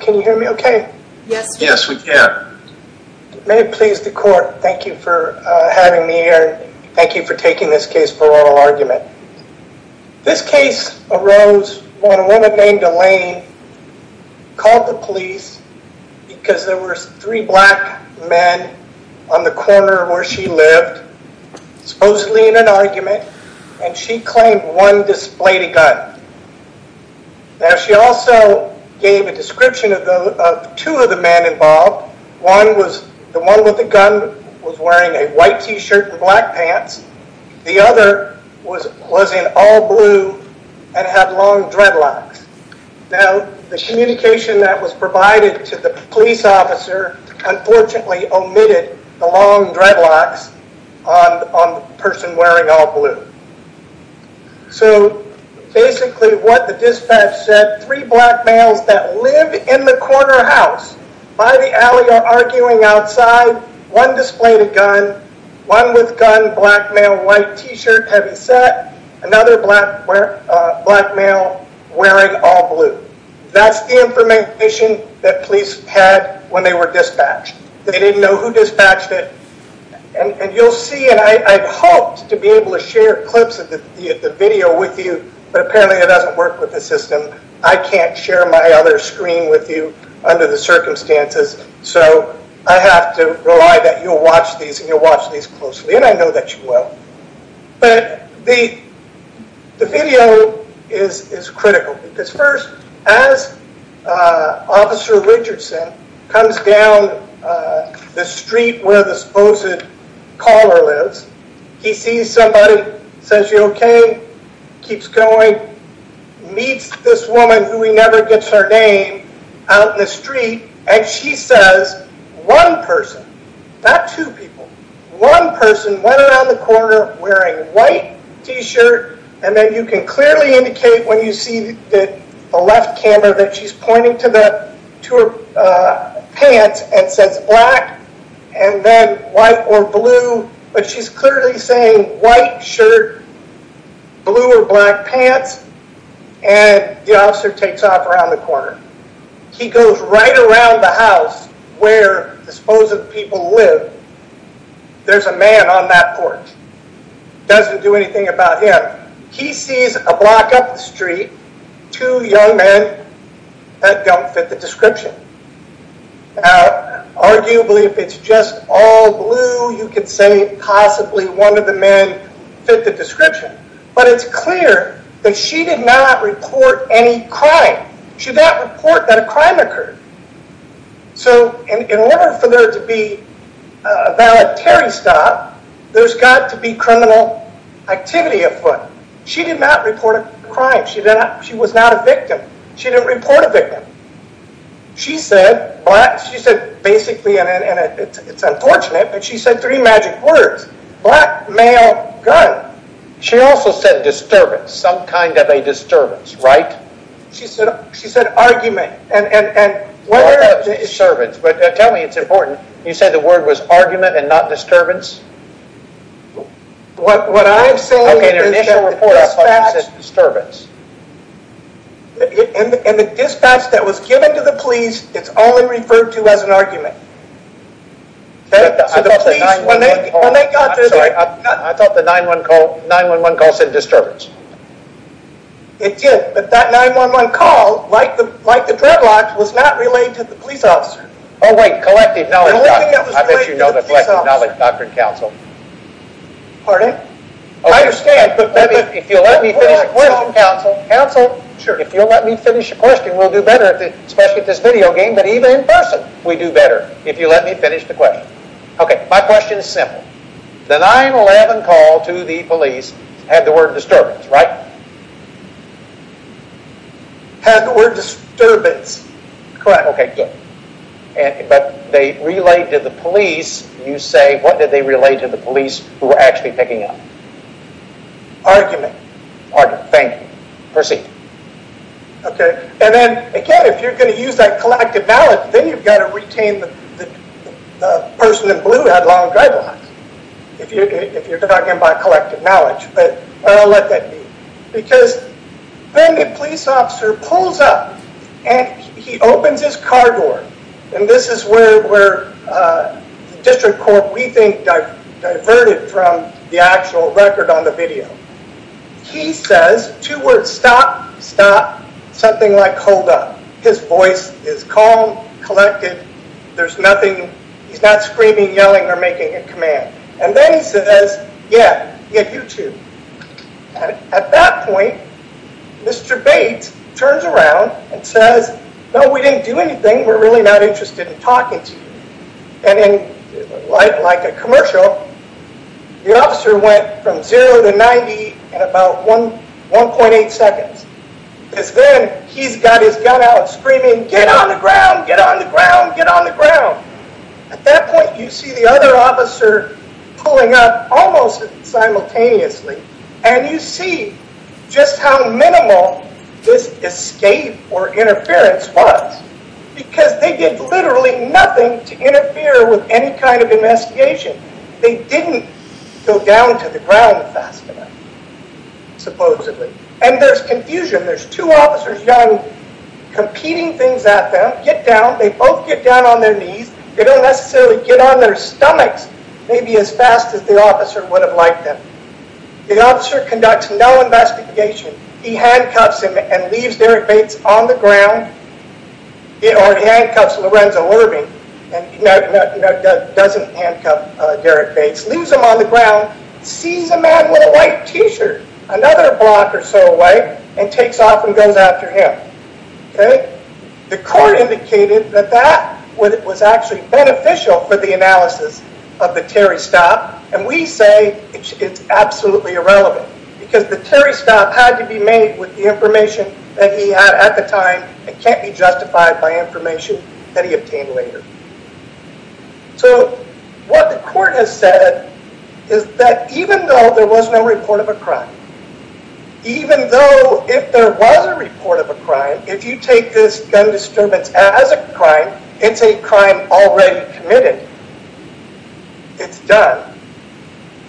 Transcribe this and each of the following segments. Can you hear me okay? Yes we can. May it please the court, thank you for having me here. Thank you for taking this case for oral argument. This case arose when a woman named Elaine called the police because there were three black men on the corner where she lived, supposedly in an argument. And she claimed one displayed a gun. Now she also gave a description of two of the men involved. One was the one with the gun was wearing a white t-shirt and black pants. The other was in all blue and had long dreadlocks. Now the communication that was provided to the police officer unfortunately omitted the long dreadlocks on the person wearing all blue. So basically what the dispatch said, three black males that live in the corner house by the alley are arguing outside. One displayed a gun, one with gun, black male, white t-shirt, heavy set, another black male wearing all blue. That's the information that police had when they were dispatched. They didn't know who dispatched it. And you'll see and I hoped to be able to share clips of the video with you but apparently it doesn't work with the system. I can't share my other screen with you under the circumstances so I have to rely that you'll watch these and you'll watch these closely. And I know that you will. But the video is critical because first as Officer Richardson comes down the street where the supposed caller lives, he sees somebody, says you okay, keeps going, meets this woman who he never gets her name out in the street and she says one person, not two people, one person went around the corner wearing white t-shirt and then you can clearly indicate when you see the left camera that she's pointing to her pants and says black and then white or blue but she's clearly saying white shirt, blue or black pants and the officer takes off around the corner. He goes right around the house where the supposed people live. There's a man on that porch. Doesn't do anything about him. He sees a block up the street, two young men that don't fit the description. Arguably if it's just all blue you could say possibly one of the men fit the description but it's clear that she did not report any crime. She did not report that a crime occurred. So in order for there to be a voluntary stop, there's got to be criminal activity afoot. She did not report a crime. She was not a victim. She didn't report a victim. She said black, she said basically and it's unfortunate but she said three magic words. Black, male, gun. She also said disturbance, some kind of a disturbance, right? She said argument and... It's disturbance but tell me it's important. You said the word was argument and not disturbance? What I'm saying is that the dispatch... Okay, in the initial report I thought you said disturbance. And the dispatch that was given to the police, it's only referred to as an argument. I thought the 911 call said disturbance. It did but that 911 call, like the dreadlocks, was not related to the police officer. Oh wait, collective knowledge. I bet you know the collective knowledge, Dr. Counsel. Pardon? I understand but... Counsel, if you'll let me finish a question, we'll do better, especially at this video game, but even in person we do better if you let me finish the question. Okay, my question is simple. The 911 call to the police had the word disturbance, right? Had the word disturbance, correct. But they relayed to the police, you say, what did they relay to the police who were actually picking up? Argument. Argument, thank you. Proceed. Okay, and then again, if you're going to use that collective knowledge, then you've got to retain the person in blue had long dreadlocks. If you're talking about collective knowledge, but I'll let that be. Because then the police officer pulls up and he opens his car door. And this is where the district court, we think, diverted from the actual record on the video. He says two words, stop, stop, something like hold up. His voice is calm, collected, there's nothing, he's not screaming, yelling, or making a command. And then he says, yeah, yeah, you too. At that point, Mr. Bates turns around and says, no, we didn't do anything. We're really not interested in talking to you. And then like a commercial, the officer went from zero to 90 in about 1.8 seconds. Because then he's got his gun out screaming, get on the ground, get on the ground, get on the ground. At that point, you see the other officer pulling up almost simultaneously. And you see just how minimal this escape or interference was. Because they did literally nothing to interfere with any kind of investigation. They didn't go down to the ground fast enough, supposedly. And there's confusion. There's two officers, young, competing things at them. They both get down on their knees. They don't necessarily get on their stomachs maybe as fast as the officer would have liked them. The officer conducts no investigation. He handcuffs him and leaves Derrick Bates on the ground. Or he handcuffs Lorenzo Irving and doesn't handcuff Derrick Bates. Leaves him on the ground, sees a man with a white t-shirt another block or so away, and takes off and goes after him. The court indicated that that was actually beneficial for the analysis of the Terry stop. And we say it's absolutely irrelevant. Because the Terry stop had to be made with the information that he had at the time. It can't be justified by information that he obtained later. So what the court has said is that even though there was no report of a crime, even though if there was a report of a crime, if you take this gun disturbance as a crime, it's a crime already committed. It's done.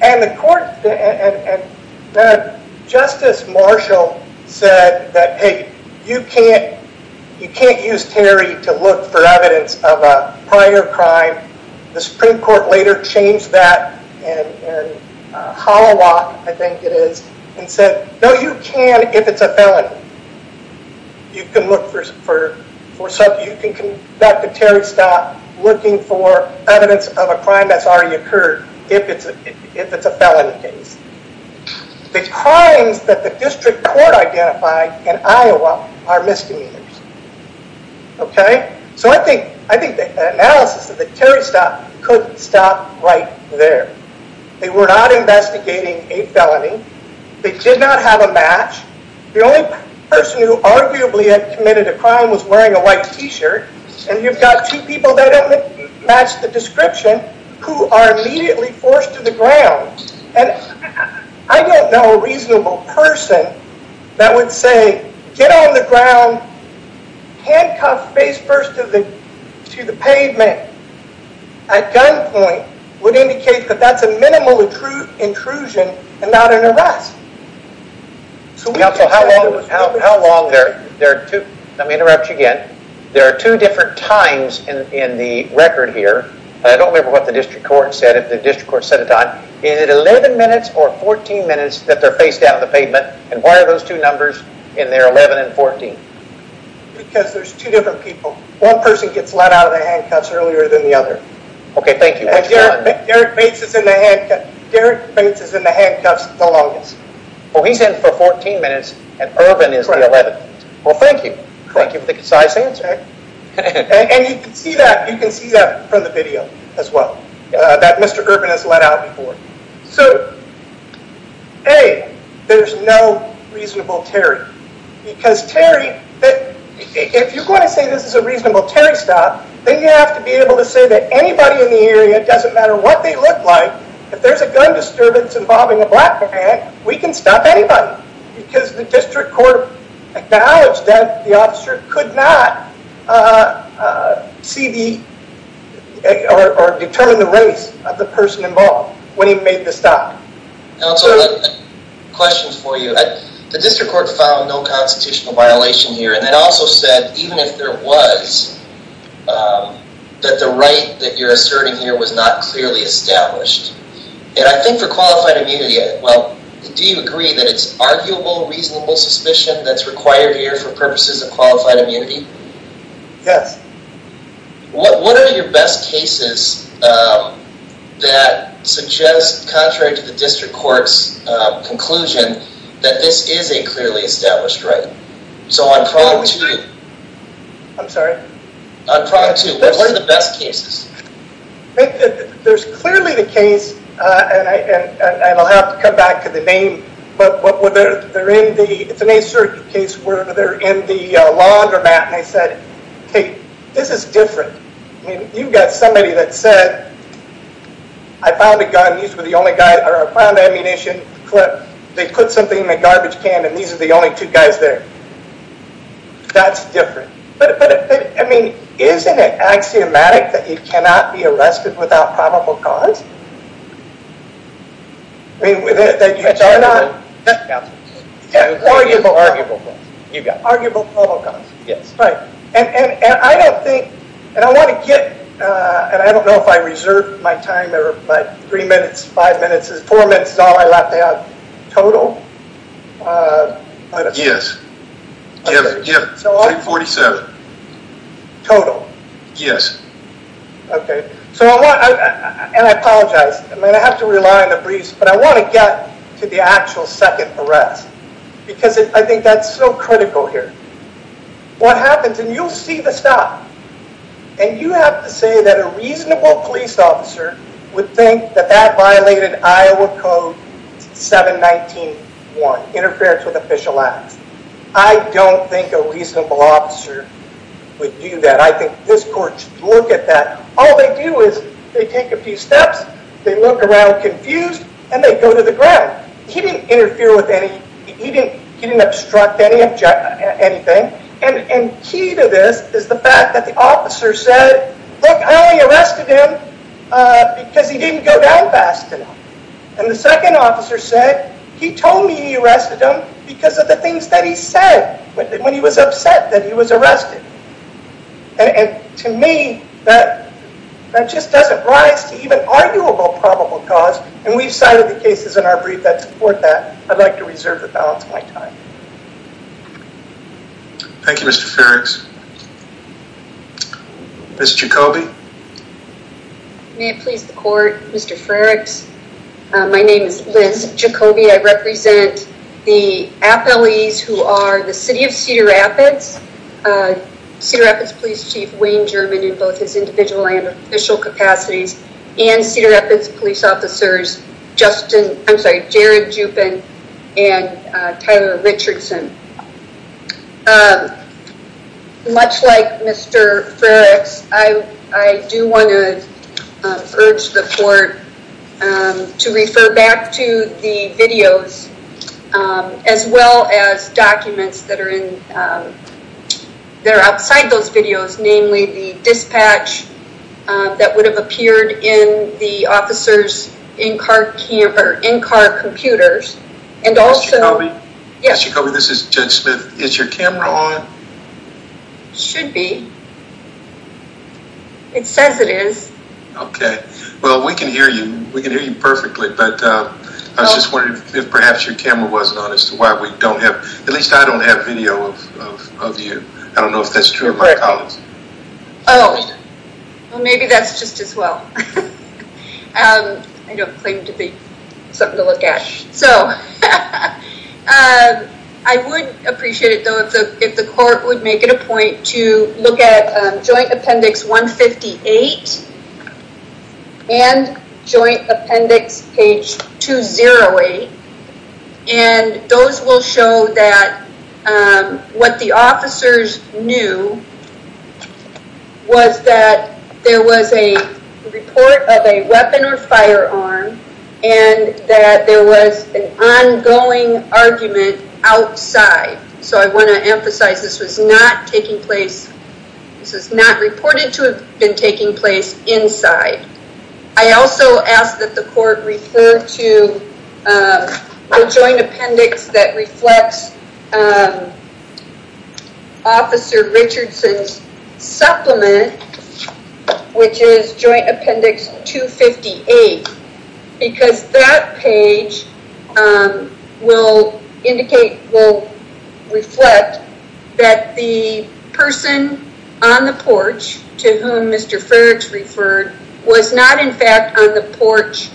And the court and Justice Marshall said that, hey, you can't use Terry to look for evidence of a prior crime. The Supreme Court later changed that and said, no, you can if it's a felony. You can conduct a Terry stop looking for evidence of a crime that's already occurred if it's a felony case. The crimes that the district court identified in Iowa are misdemeanors. Okay? So I think the analysis of the Terry stop could stop right there. They were not investigating a felony. They did not have a match. The only person who arguably had committed a crime was wearing a white T-shirt. And you've got two people that match the description who are immediately forced to the ground. And I don't know a reasonable person that would say, get on the ground, handcuff, face first to the pavement, at gunpoint, would indicate that that's a minimal intrusion and not an arrest. Let me interrupt you again. There are two different times in the record here. I don't remember what the district court said if the district court set a time. Is it 11 minutes or 14 minutes that they're faced out on the pavement? And why are those two numbers in there, 11 and 14? Because there's two different people. One person gets let out of the handcuffs earlier than the other. Okay, thank you. Derek Bates is in the handcuffs the longest. Oh, he's in for 14 minutes and Irvin is the 11th. Well, thank you. Thank you for the concise answer. And you can see that from the video as well that Mr. Irvin has let out before. So, A, there's no reasonable Terry. Because Terry, if you're going to say this is a reasonable Terry stop, then you have to be able to say that anybody in the area, doesn't matter what they look like, if there's a gun disturbance involving a black man, we can stop anybody. Because the district court acknowledged that the officer could not see the or determine the race of the person involved when he made the stop. Counselor, I have a question for you. The district court found no constitutional violation here, and it also said even if there was, that the right that you're asserting here was not clearly established. And I think for qualified immunity, well, do you agree that it's arguable, reasonable suspicion that's required here for purposes of qualified immunity? Yes. What are your best cases that suggest, contrary to the district court's conclusion, that this is a clearly established right? So on prong two. I'm sorry? On prong two, what are the best cases? There's clearly the case, and I'll have to come back to the name, but whether they're in the, it's an a certain case where they're in the laundromat, and I said, hey, this is different. You've got somebody that said, I found a gun, these were the only guys, or I found ammunition, they put something in the garbage can, and these are the only two guys there. That's different. But, I mean, isn't it axiomatic that you cannot be arrested without probable cause? I mean, that you are not- Yes. Arguable cause. Arguable probable cause. Yes. Right. And I don't think, and I want to get, and I don't know if I reserve my time, but three minutes, five minutes, four minutes is all I'm allowed to have total. Yes. Okay. Yeah, 347. Total? Yes. Okay. So I want, and I apologize, I'm going to have to rely on the briefs, but I want to get to the actual second arrest because I think that's so critical here. What happens, and you'll see the stop, and you have to say that a reasonable police officer would think that that violated Iowa Code 719.1, Interference with Official Acts. I don't think a reasonable officer would do that. I think this court should look at that. All they do is they take a few steps, they look around confused, and they go to the ground. He didn't interfere with any, he didn't obstruct anything, and key to this is the fact that the officer said, Look, I only arrested him because he didn't go down fast enough. And the second officer said, he told me he arrested him because of the things that he said when he was upset that he was arrested. And to me, that just doesn't rise to even arguable probable cause, and we've cited the cases in our brief that support that. I'd like to reserve the balance of my time. Thank you, Mr. Farrings. Ms. Jacoby. May it please the court, Mr. Farrings. My name is Liz Jacoby. I represent the appellees who are the City of Cedar Rapids, Cedar Rapids Police Chief Wayne German in both his individual and official capacities, and Cedar Rapids Police Officers Jared Juppin and Tyler Richardson. Much like Mr. Farrings, I do want to urge the court to refer back to the videos, as well as documents that are outside those videos, namely the dispatch that would have appeared in the officers' in-car computers, and also... Ms. Jacoby. Yes. Ms. Jacoby, this is Judge Smith. Is your camera on? It should be. It says it is. Okay. Well, we can hear you. We can hear you perfectly, but I was just wondering if perhaps your camera wasn't on as to why we don't have, at least I don't have video of you. I don't know if that's true of my colleagues. Oh. Well, maybe that's just as well. I don't claim to be something to look at. So I would appreciate it, though, if the court would make it a point to look at Joint Appendix 158 and Joint Appendix Page 208, and those will show that what the officers knew was that there was a report of a weapon or firearm and that there was an ongoing argument outside. So I want to emphasize this was not taking place. This is not reported to have been taking place inside. I also ask that the court refer to the Joint Appendix that reflects Officer Richardson's supplement, which is Joint Appendix 258, because that page will reflect that the person on the porch to whom Mr. Fergs referred was not in fact on the porch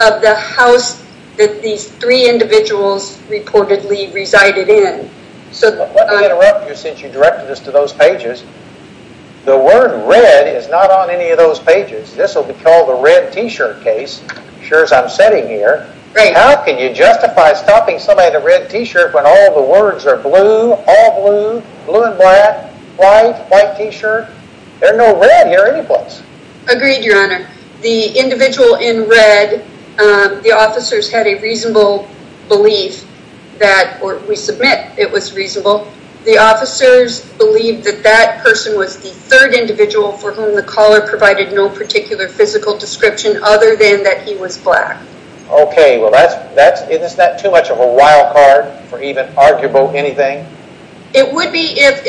of the house that these three individuals reportedly resided in. Let me interrupt you since you directed us to those pages. The word red is not on any of those pages. This will be called the red T-shirt case, as sure as I'm sitting here. How can you justify stopping somebody at a red T-shirt when all the words are blue, all blue, blue and black, white, white T-shirt? There are no red here anyplace. Agreed, Your Honor. The individual in red, the officers had a reasonable belief that, or we submit it was reasonable, the officers believed that that person was the third individual for whom the caller provided no particular physical description other than that he was black. Okay, well, isn't that too much of a wild card for even arguable anything? It would be if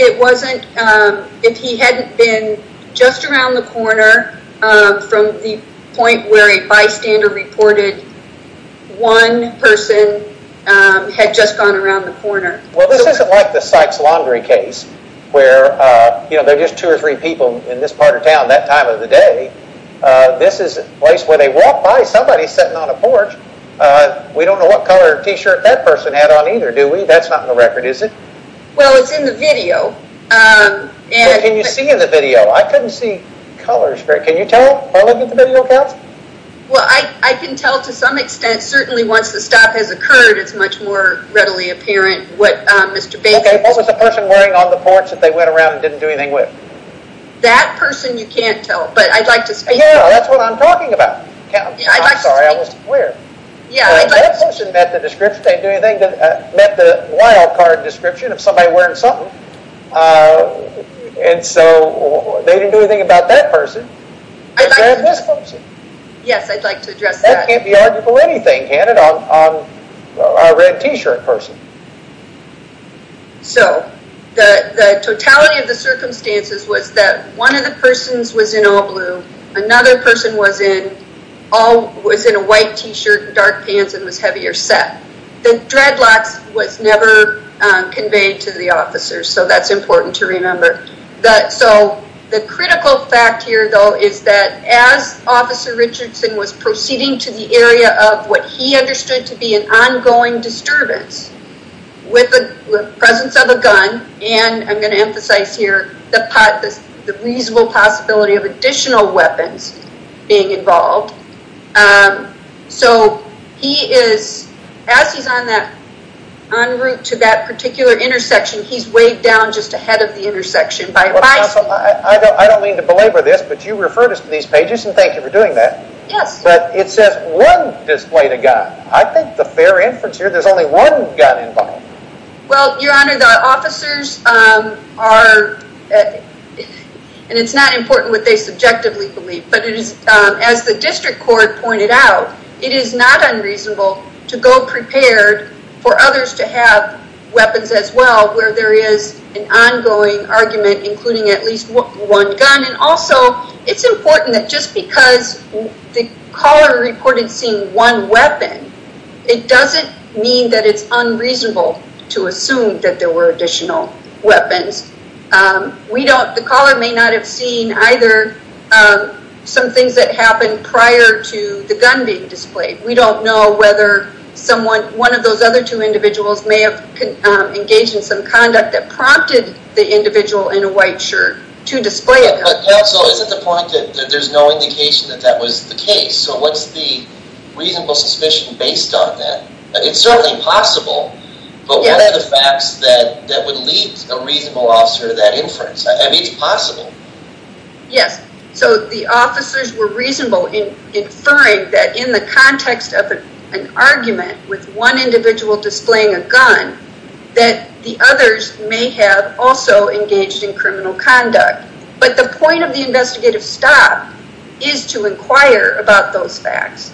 he hadn't been just around the corner from the point where a bystander reported one person had just gone around the corner. Well, this isn't like the Sykes laundry case where there are just two or three people in this part of town that time of the day. This is a place where they walk by somebody sitting on a porch. We don't know what color T-shirt that person had on either, do we? That's not in the record, is it? Well, it's in the video. Can you see in the video? I couldn't see colors. Can you tell by looking at the video, Counsel? Well, I can tell to some extent. Certainly once the stop has occurred, it's much more readily apparent what Mr. Baker was wearing. Okay, what was the person wearing on the porch that they went around and didn't do anything with? That person you can't tell, but I'd like to speak to that. Yeah, that's what I'm talking about. Counsel, I'm sorry, I was, where? That person met the wild card description of somebody wearing something, and so they didn't do anything about that person. Is that this person? Yes, I'd like to address that. That can't be arguable anything, can it, on a red T-shirt person. So the totality of the circumstances was that one of the persons was in all blue, another person was in a white T-shirt and dark pants and was heavier set. The dreadlocks was never conveyed to the officers, so that's important to remember. So the critical fact here, though, is that as Officer Richardson was proceeding to the area of what he understood to be an ongoing disturbance with the presence of a gun, and I'm going to emphasize here the reasonable possibility of additional weapons being involved. So he is, as he's en route to that particular intersection, he's weighed down just ahead of the intersection by a bicycle. I don't mean to belabor this, but you referred us to these pages, and thank you for doing that. Yes. But it says one displayed a gun. I think the fair inference here, there's only one gun involved. Well, Your Honor, the officers are, and it's not important what they subjectively believe, but as the district court pointed out, it is not unreasonable to go prepared for others to have weapons as well where there is an ongoing argument including at least one gun. And also, it's important that just because the caller reported seeing one weapon, it doesn't mean that it's unreasonable to assume that there were additional weapons. The caller may not have seen either some things that happened prior to the gun being displayed. We don't know whether one of those other two individuals may have engaged in some conduct that prompted the individual in a white shirt to display a gun. But counsel, is it the point that there's no indication that that was the case? So what's the reasonable suspicion based on that? It's certainly possible, but what are the facts that would lead a reasonable officer to that inference? I mean, it's possible. Yes. So the officers were reasonable in inferring that in the context of an argument with one individual displaying a gun, that the others may have also engaged in criminal conduct. But the point of the investigative stop is to inquire about those facts.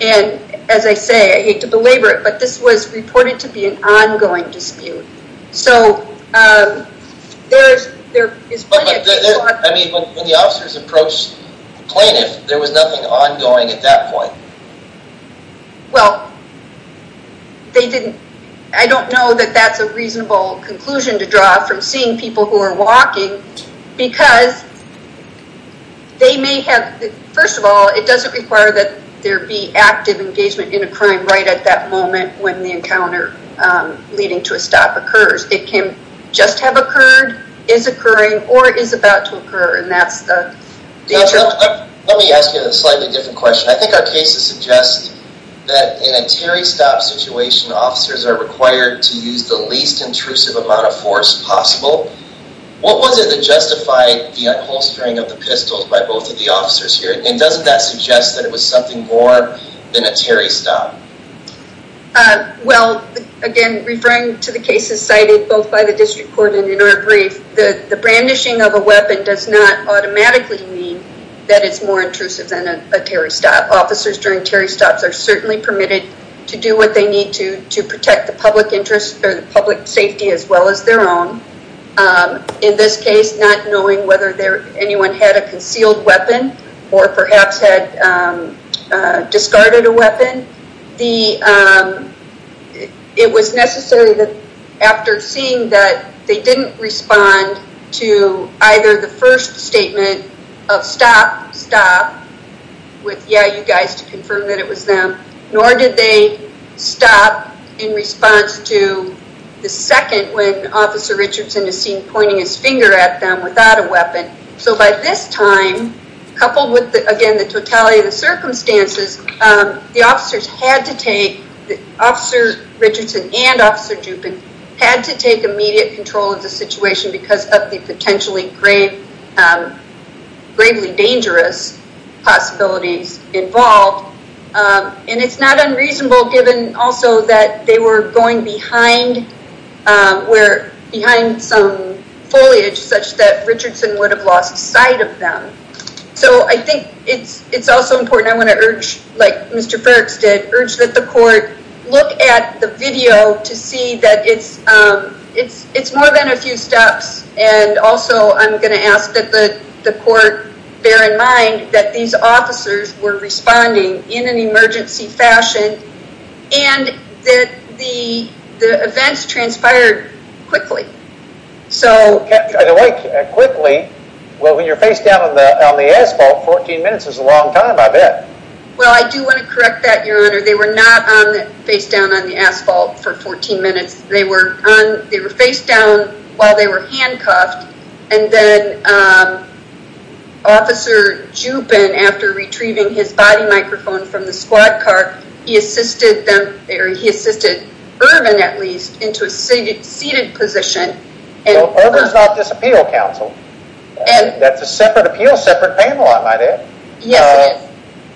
And as I say, I hate to belabor it, but this was reported to be an ongoing dispute. So there is plenty of people who are... I mean, when the officers approached the plaintiff, there was nothing ongoing at that point. Well, they didn't... I don't know that that's a reasonable conclusion to draw from seeing people who are walking because they may have... First of all, it doesn't require that there be active engagement in a crime right at that moment when the encounter leading to a stop occurs. It can just have occurred, is occurring, or is about to occur, and that's the... Let me ask you a slightly different question. I think our cases suggest that in a Terry stop situation, officers are required to use the least intrusive amount of force possible. What was it that justified the unholstering of the pistols by both of the officers here? And doesn't that suggest that it was something more than a Terry stop? Well, again, referring to the cases cited both by the district court and in our brief, the brandishing of a weapon does not automatically mean that it's more intrusive than a Terry stop. Officers during Terry stops are certainly permitted to do what they need to to protect the public interest or the public safety as well as their own. In this case, not knowing whether anyone had a concealed weapon or perhaps had discarded a weapon. It was necessary that after seeing that they didn't respond to either the first statement of stop, stop, with, yeah, you guys, to confirm that it was them, nor did they stop in response to the second when Officer Richardson is seen pointing his finger at them without a weapon. So by this time, coupled with, again, the totality of the circumstances, the officers had to take, Officer Richardson and Officer Dupin had to take immediate control of the situation because of the potentially gravely dangerous possibilities involved. And it's not unreasonable given also that they were going behind where, behind some foliage such that Richardson would have lost sight of them. So I think it's also important, I want to urge, like Mr. Ferrix did, urge that the court look at the video to see that it's more than a few steps and also I'm going to ask that the court bear in mind that these officers were responding in an emergency fashion and that the events transpired quickly. So... Quickly? Well, when you're face down on the asphalt, 14 minutes is a long time, I bet. Well, I do want to correct that, Your Honor. They were not face down on the asphalt for 14 minutes. They were face down while they were handcuffed and then Officer Dupin, after retrieving his body microphone from the squad car, he assisted Irvin, at least, into a seated position. Irvin's not this appeal counsel. That's a separate appeal, separate panel, I might add. Yes, it is.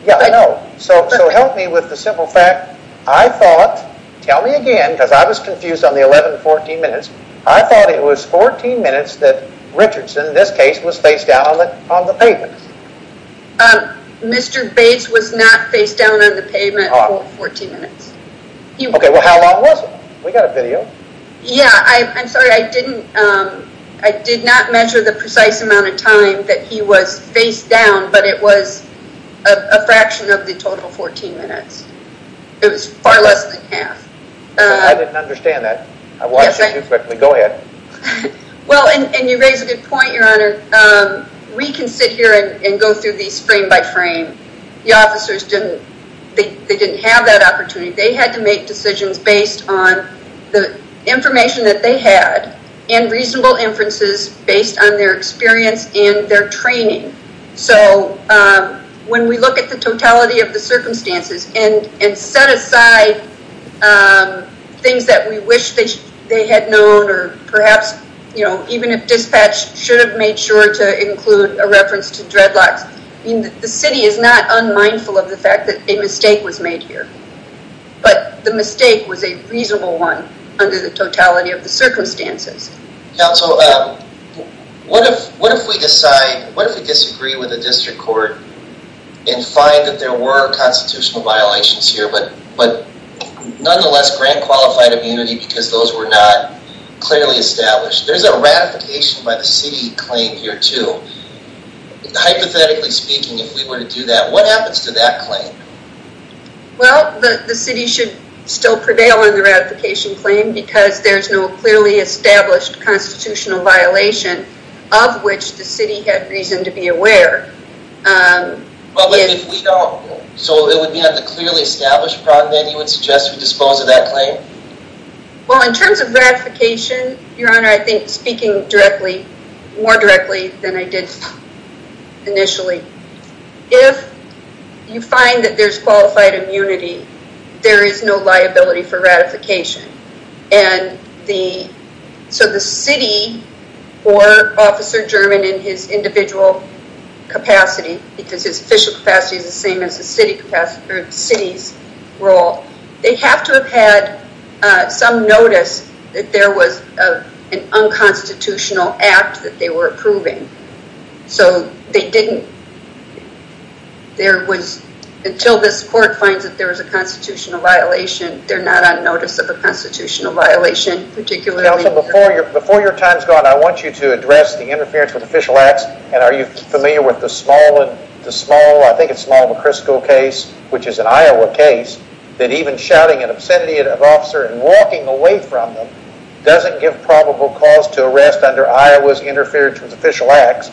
Yeah, I know. So help me with the simple fact, I thought, tell me again because I was confused on the 11-14 minutes, I thought it was 14 minutes that Richardson, in this case, was face down on the pavement. Mr. Bates was not face down on the pavement for 14 minutes. Okay, well, how long was it? We've got a video. Yeah, I'm sorry. I did not measure the precise amount of time that he was face down, but it was a fraction of the total 14 minutes. It was far less than half. I didn't understand that. Go ahead. Well, and you raise a good point, Your Honor. We can sit here and go through these frame by frame. The officers didn't have that opportunity. They had to make decisions based on the information that they had and reasonable inferences based on their experience and their training. So when we look at the totality of the circumstances and set aside things that we wish they had known or perhaps, you know, even if dispatch should have made sure to include a reference to dreadlocks, the city is not unmindful of the fact that a mistake was made here, but the mistake was a reasonable one under the totality of the circumstances. Counsel, what if we decide, what if we disagree with the district court and find that there were constitutional violations here but nonetheless grant qualified immunity because those were not clearly established? There's a ratification by the city claim here too. Hypothetically speaking, if we were to do that, what happens to that claim? Well, the city should still prevail on the ratification claim because there's no clearly established constitutional violation of which the city had reason to be aware. But if we don't, so it would be at the clearly established problem that you would suggest we dispose of that claim? Well, in terms of ratification, Your Honor, I think speaking directly, more directly than I did initially, if you find that there's qualified immunity, there is no liability for ratification. So the city or Officer German in his individual capacity because his official capacity is the same as the city's role, they have to have had some notice that there was an unconstitutional act that they were approving. Until this court finds that there was a constitutional violation, they're not on notice of a constitutional violation, particularly... Counsel, before your time's gone, I want you to address the interference with official acts. And are you familiar with the small, I think it's small, McCrisco case, which is an Iowa case, that even shouting an obscenity at an officer and walking away from them doesn't give probable cause to arrest under Iowa's interference with official acts.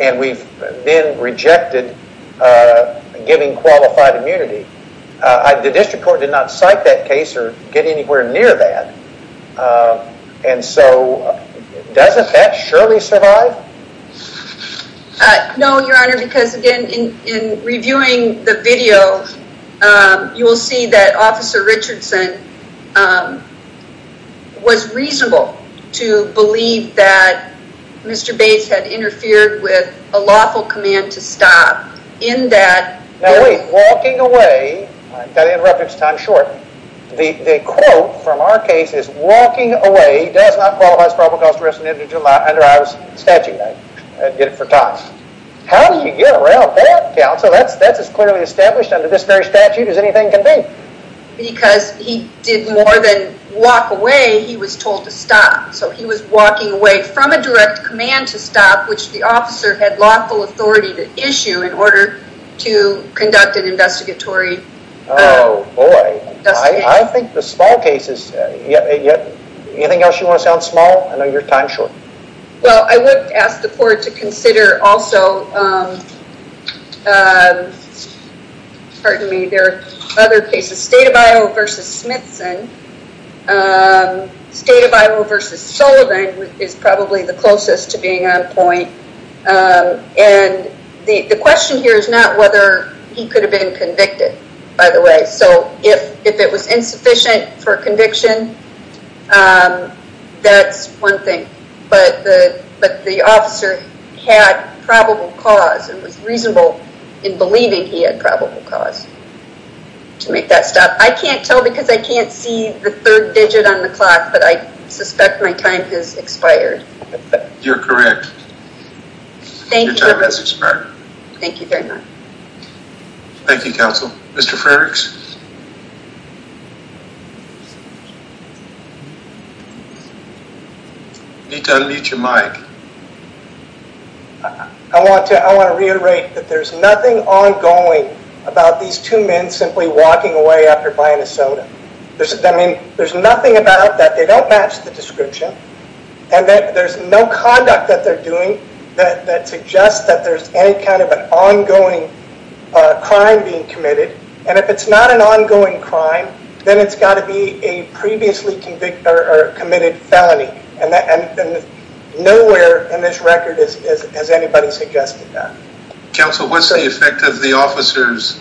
And we've been rejected giving qualified immunity. The district court did not cite that case or get anywhere near that. And so doesn't that surely survive? No, Your Honor, because again, in reviewing the video, you will see that Officer Richardson was reasonable to believe that Mr. Bates had interfered with a lawful command to stop in that... Now wait, walking away, I've got to interrupt, it's time short. The quote from our case is, walking away does not qualify as probable cause to arrest under Iowa's statute. I did it for time. How do you get around that, Counsel? That's as clearly established under this very statute as anything can be. Because he did more than walk away, he was told to stop. So he was walking away from a direct command to stop, which the officer had lawful authority to issue in order to conduct an investigatory... Oh boy, I think the small cases... Anything else you want to say on small? I know you're time's short. Well, I would ask the court to consider also... Pardon me, there are other cases. State of Iowa v. Smithson. State of Iowa v. Sullivan is probably the closest to being on point. And the question here is not whether he could have been convicted, by the way. So if it was insufficient for conviction, that's one thing. But the officer had probable cause and was reasonable in believing he had probable cause to make that stop. I can't tell because I can't see the third digit on the clock, but I suspect my time has expired. You're correct. Your time has expired. Thank you very much. Thank you, counsel. Mr. Frerichs? You need to unmute your mic. I want to reiterate that there's nothing ongoing about these two men simply walking away after buying a soda. There's nothing about that. They don't match the description. And that there's no conduct that they're doing that suggests that there's any kind of an ongoing crime being committed. And if it's not an ongoing crime, then it's got to be a previously convicted or committed felony. And nowhere in this record has anybody suggested that. Counsel, what's the effect of the officer's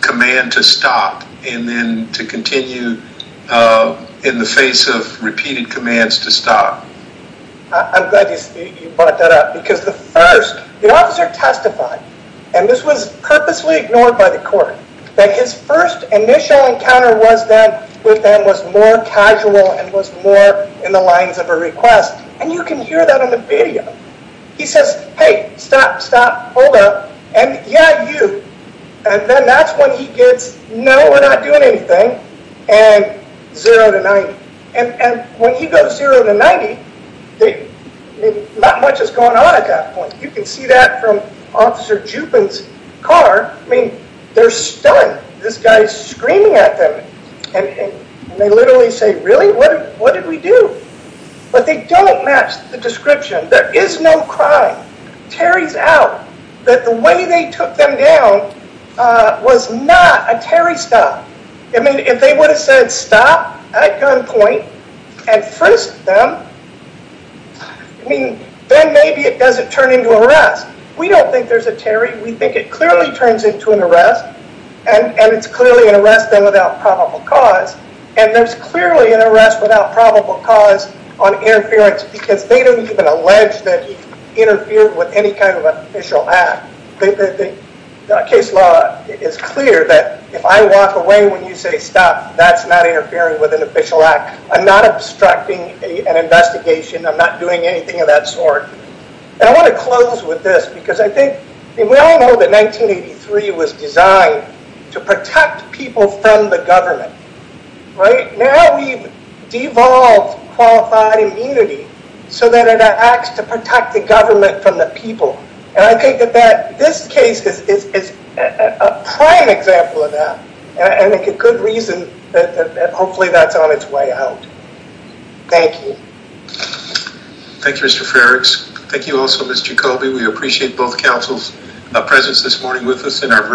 command to stop and then to continue in the face of repeated commands to stop? I'm glad you brought that up. Because the first, the officer testified, and this was purposely ignored by the court, that his first initial encounter with them was more casual and was more in the lines of a request. And you can hear that in the video. He says, hey, stop, stop, hold up. And yeah, you. And then that's when he gets, no, we're not doing anything, and 0 to 90. And when he goes 0 to 90, not much has gone on at that point. You can see that from Officer Juppin's car. I mean, they're stunned. This guy's screaming at them. And they literally say, really? What did we do? But they don't match the description. There is no crime. Terry's out. The way they took them down was not a Terry stop. I mean, if they would have said stop at gunpoint and frisked them, I mean, then maybe it doesn't turn into an arrest. We don't think there's a Terry. We think it clearly turns into an arrest, and it's clearly an arrest then without probable cause. And there's clearly an arrest without probable cause on interference because they don't even allege that he interfered with any kind of official act. The case law is clear that if I walk away when you say stop, that's not interfering with an official act. I'm not obstructing an investigation. I'm not doing anything of that sort. And I want to close with this because I think, we all know that 1983 was designed to protect people from the government, right? Now we've devolved qualified immunity so that it acts to protect the government from the people. And I think that this case is a prime example of that, and I think a good reason that hopefully that's on its way out. Thank you. Thank you, Mr. Frerichs. Thank you also, Mr. Colby. We appreciate both councils' presence this morning with us in our virtual meeting.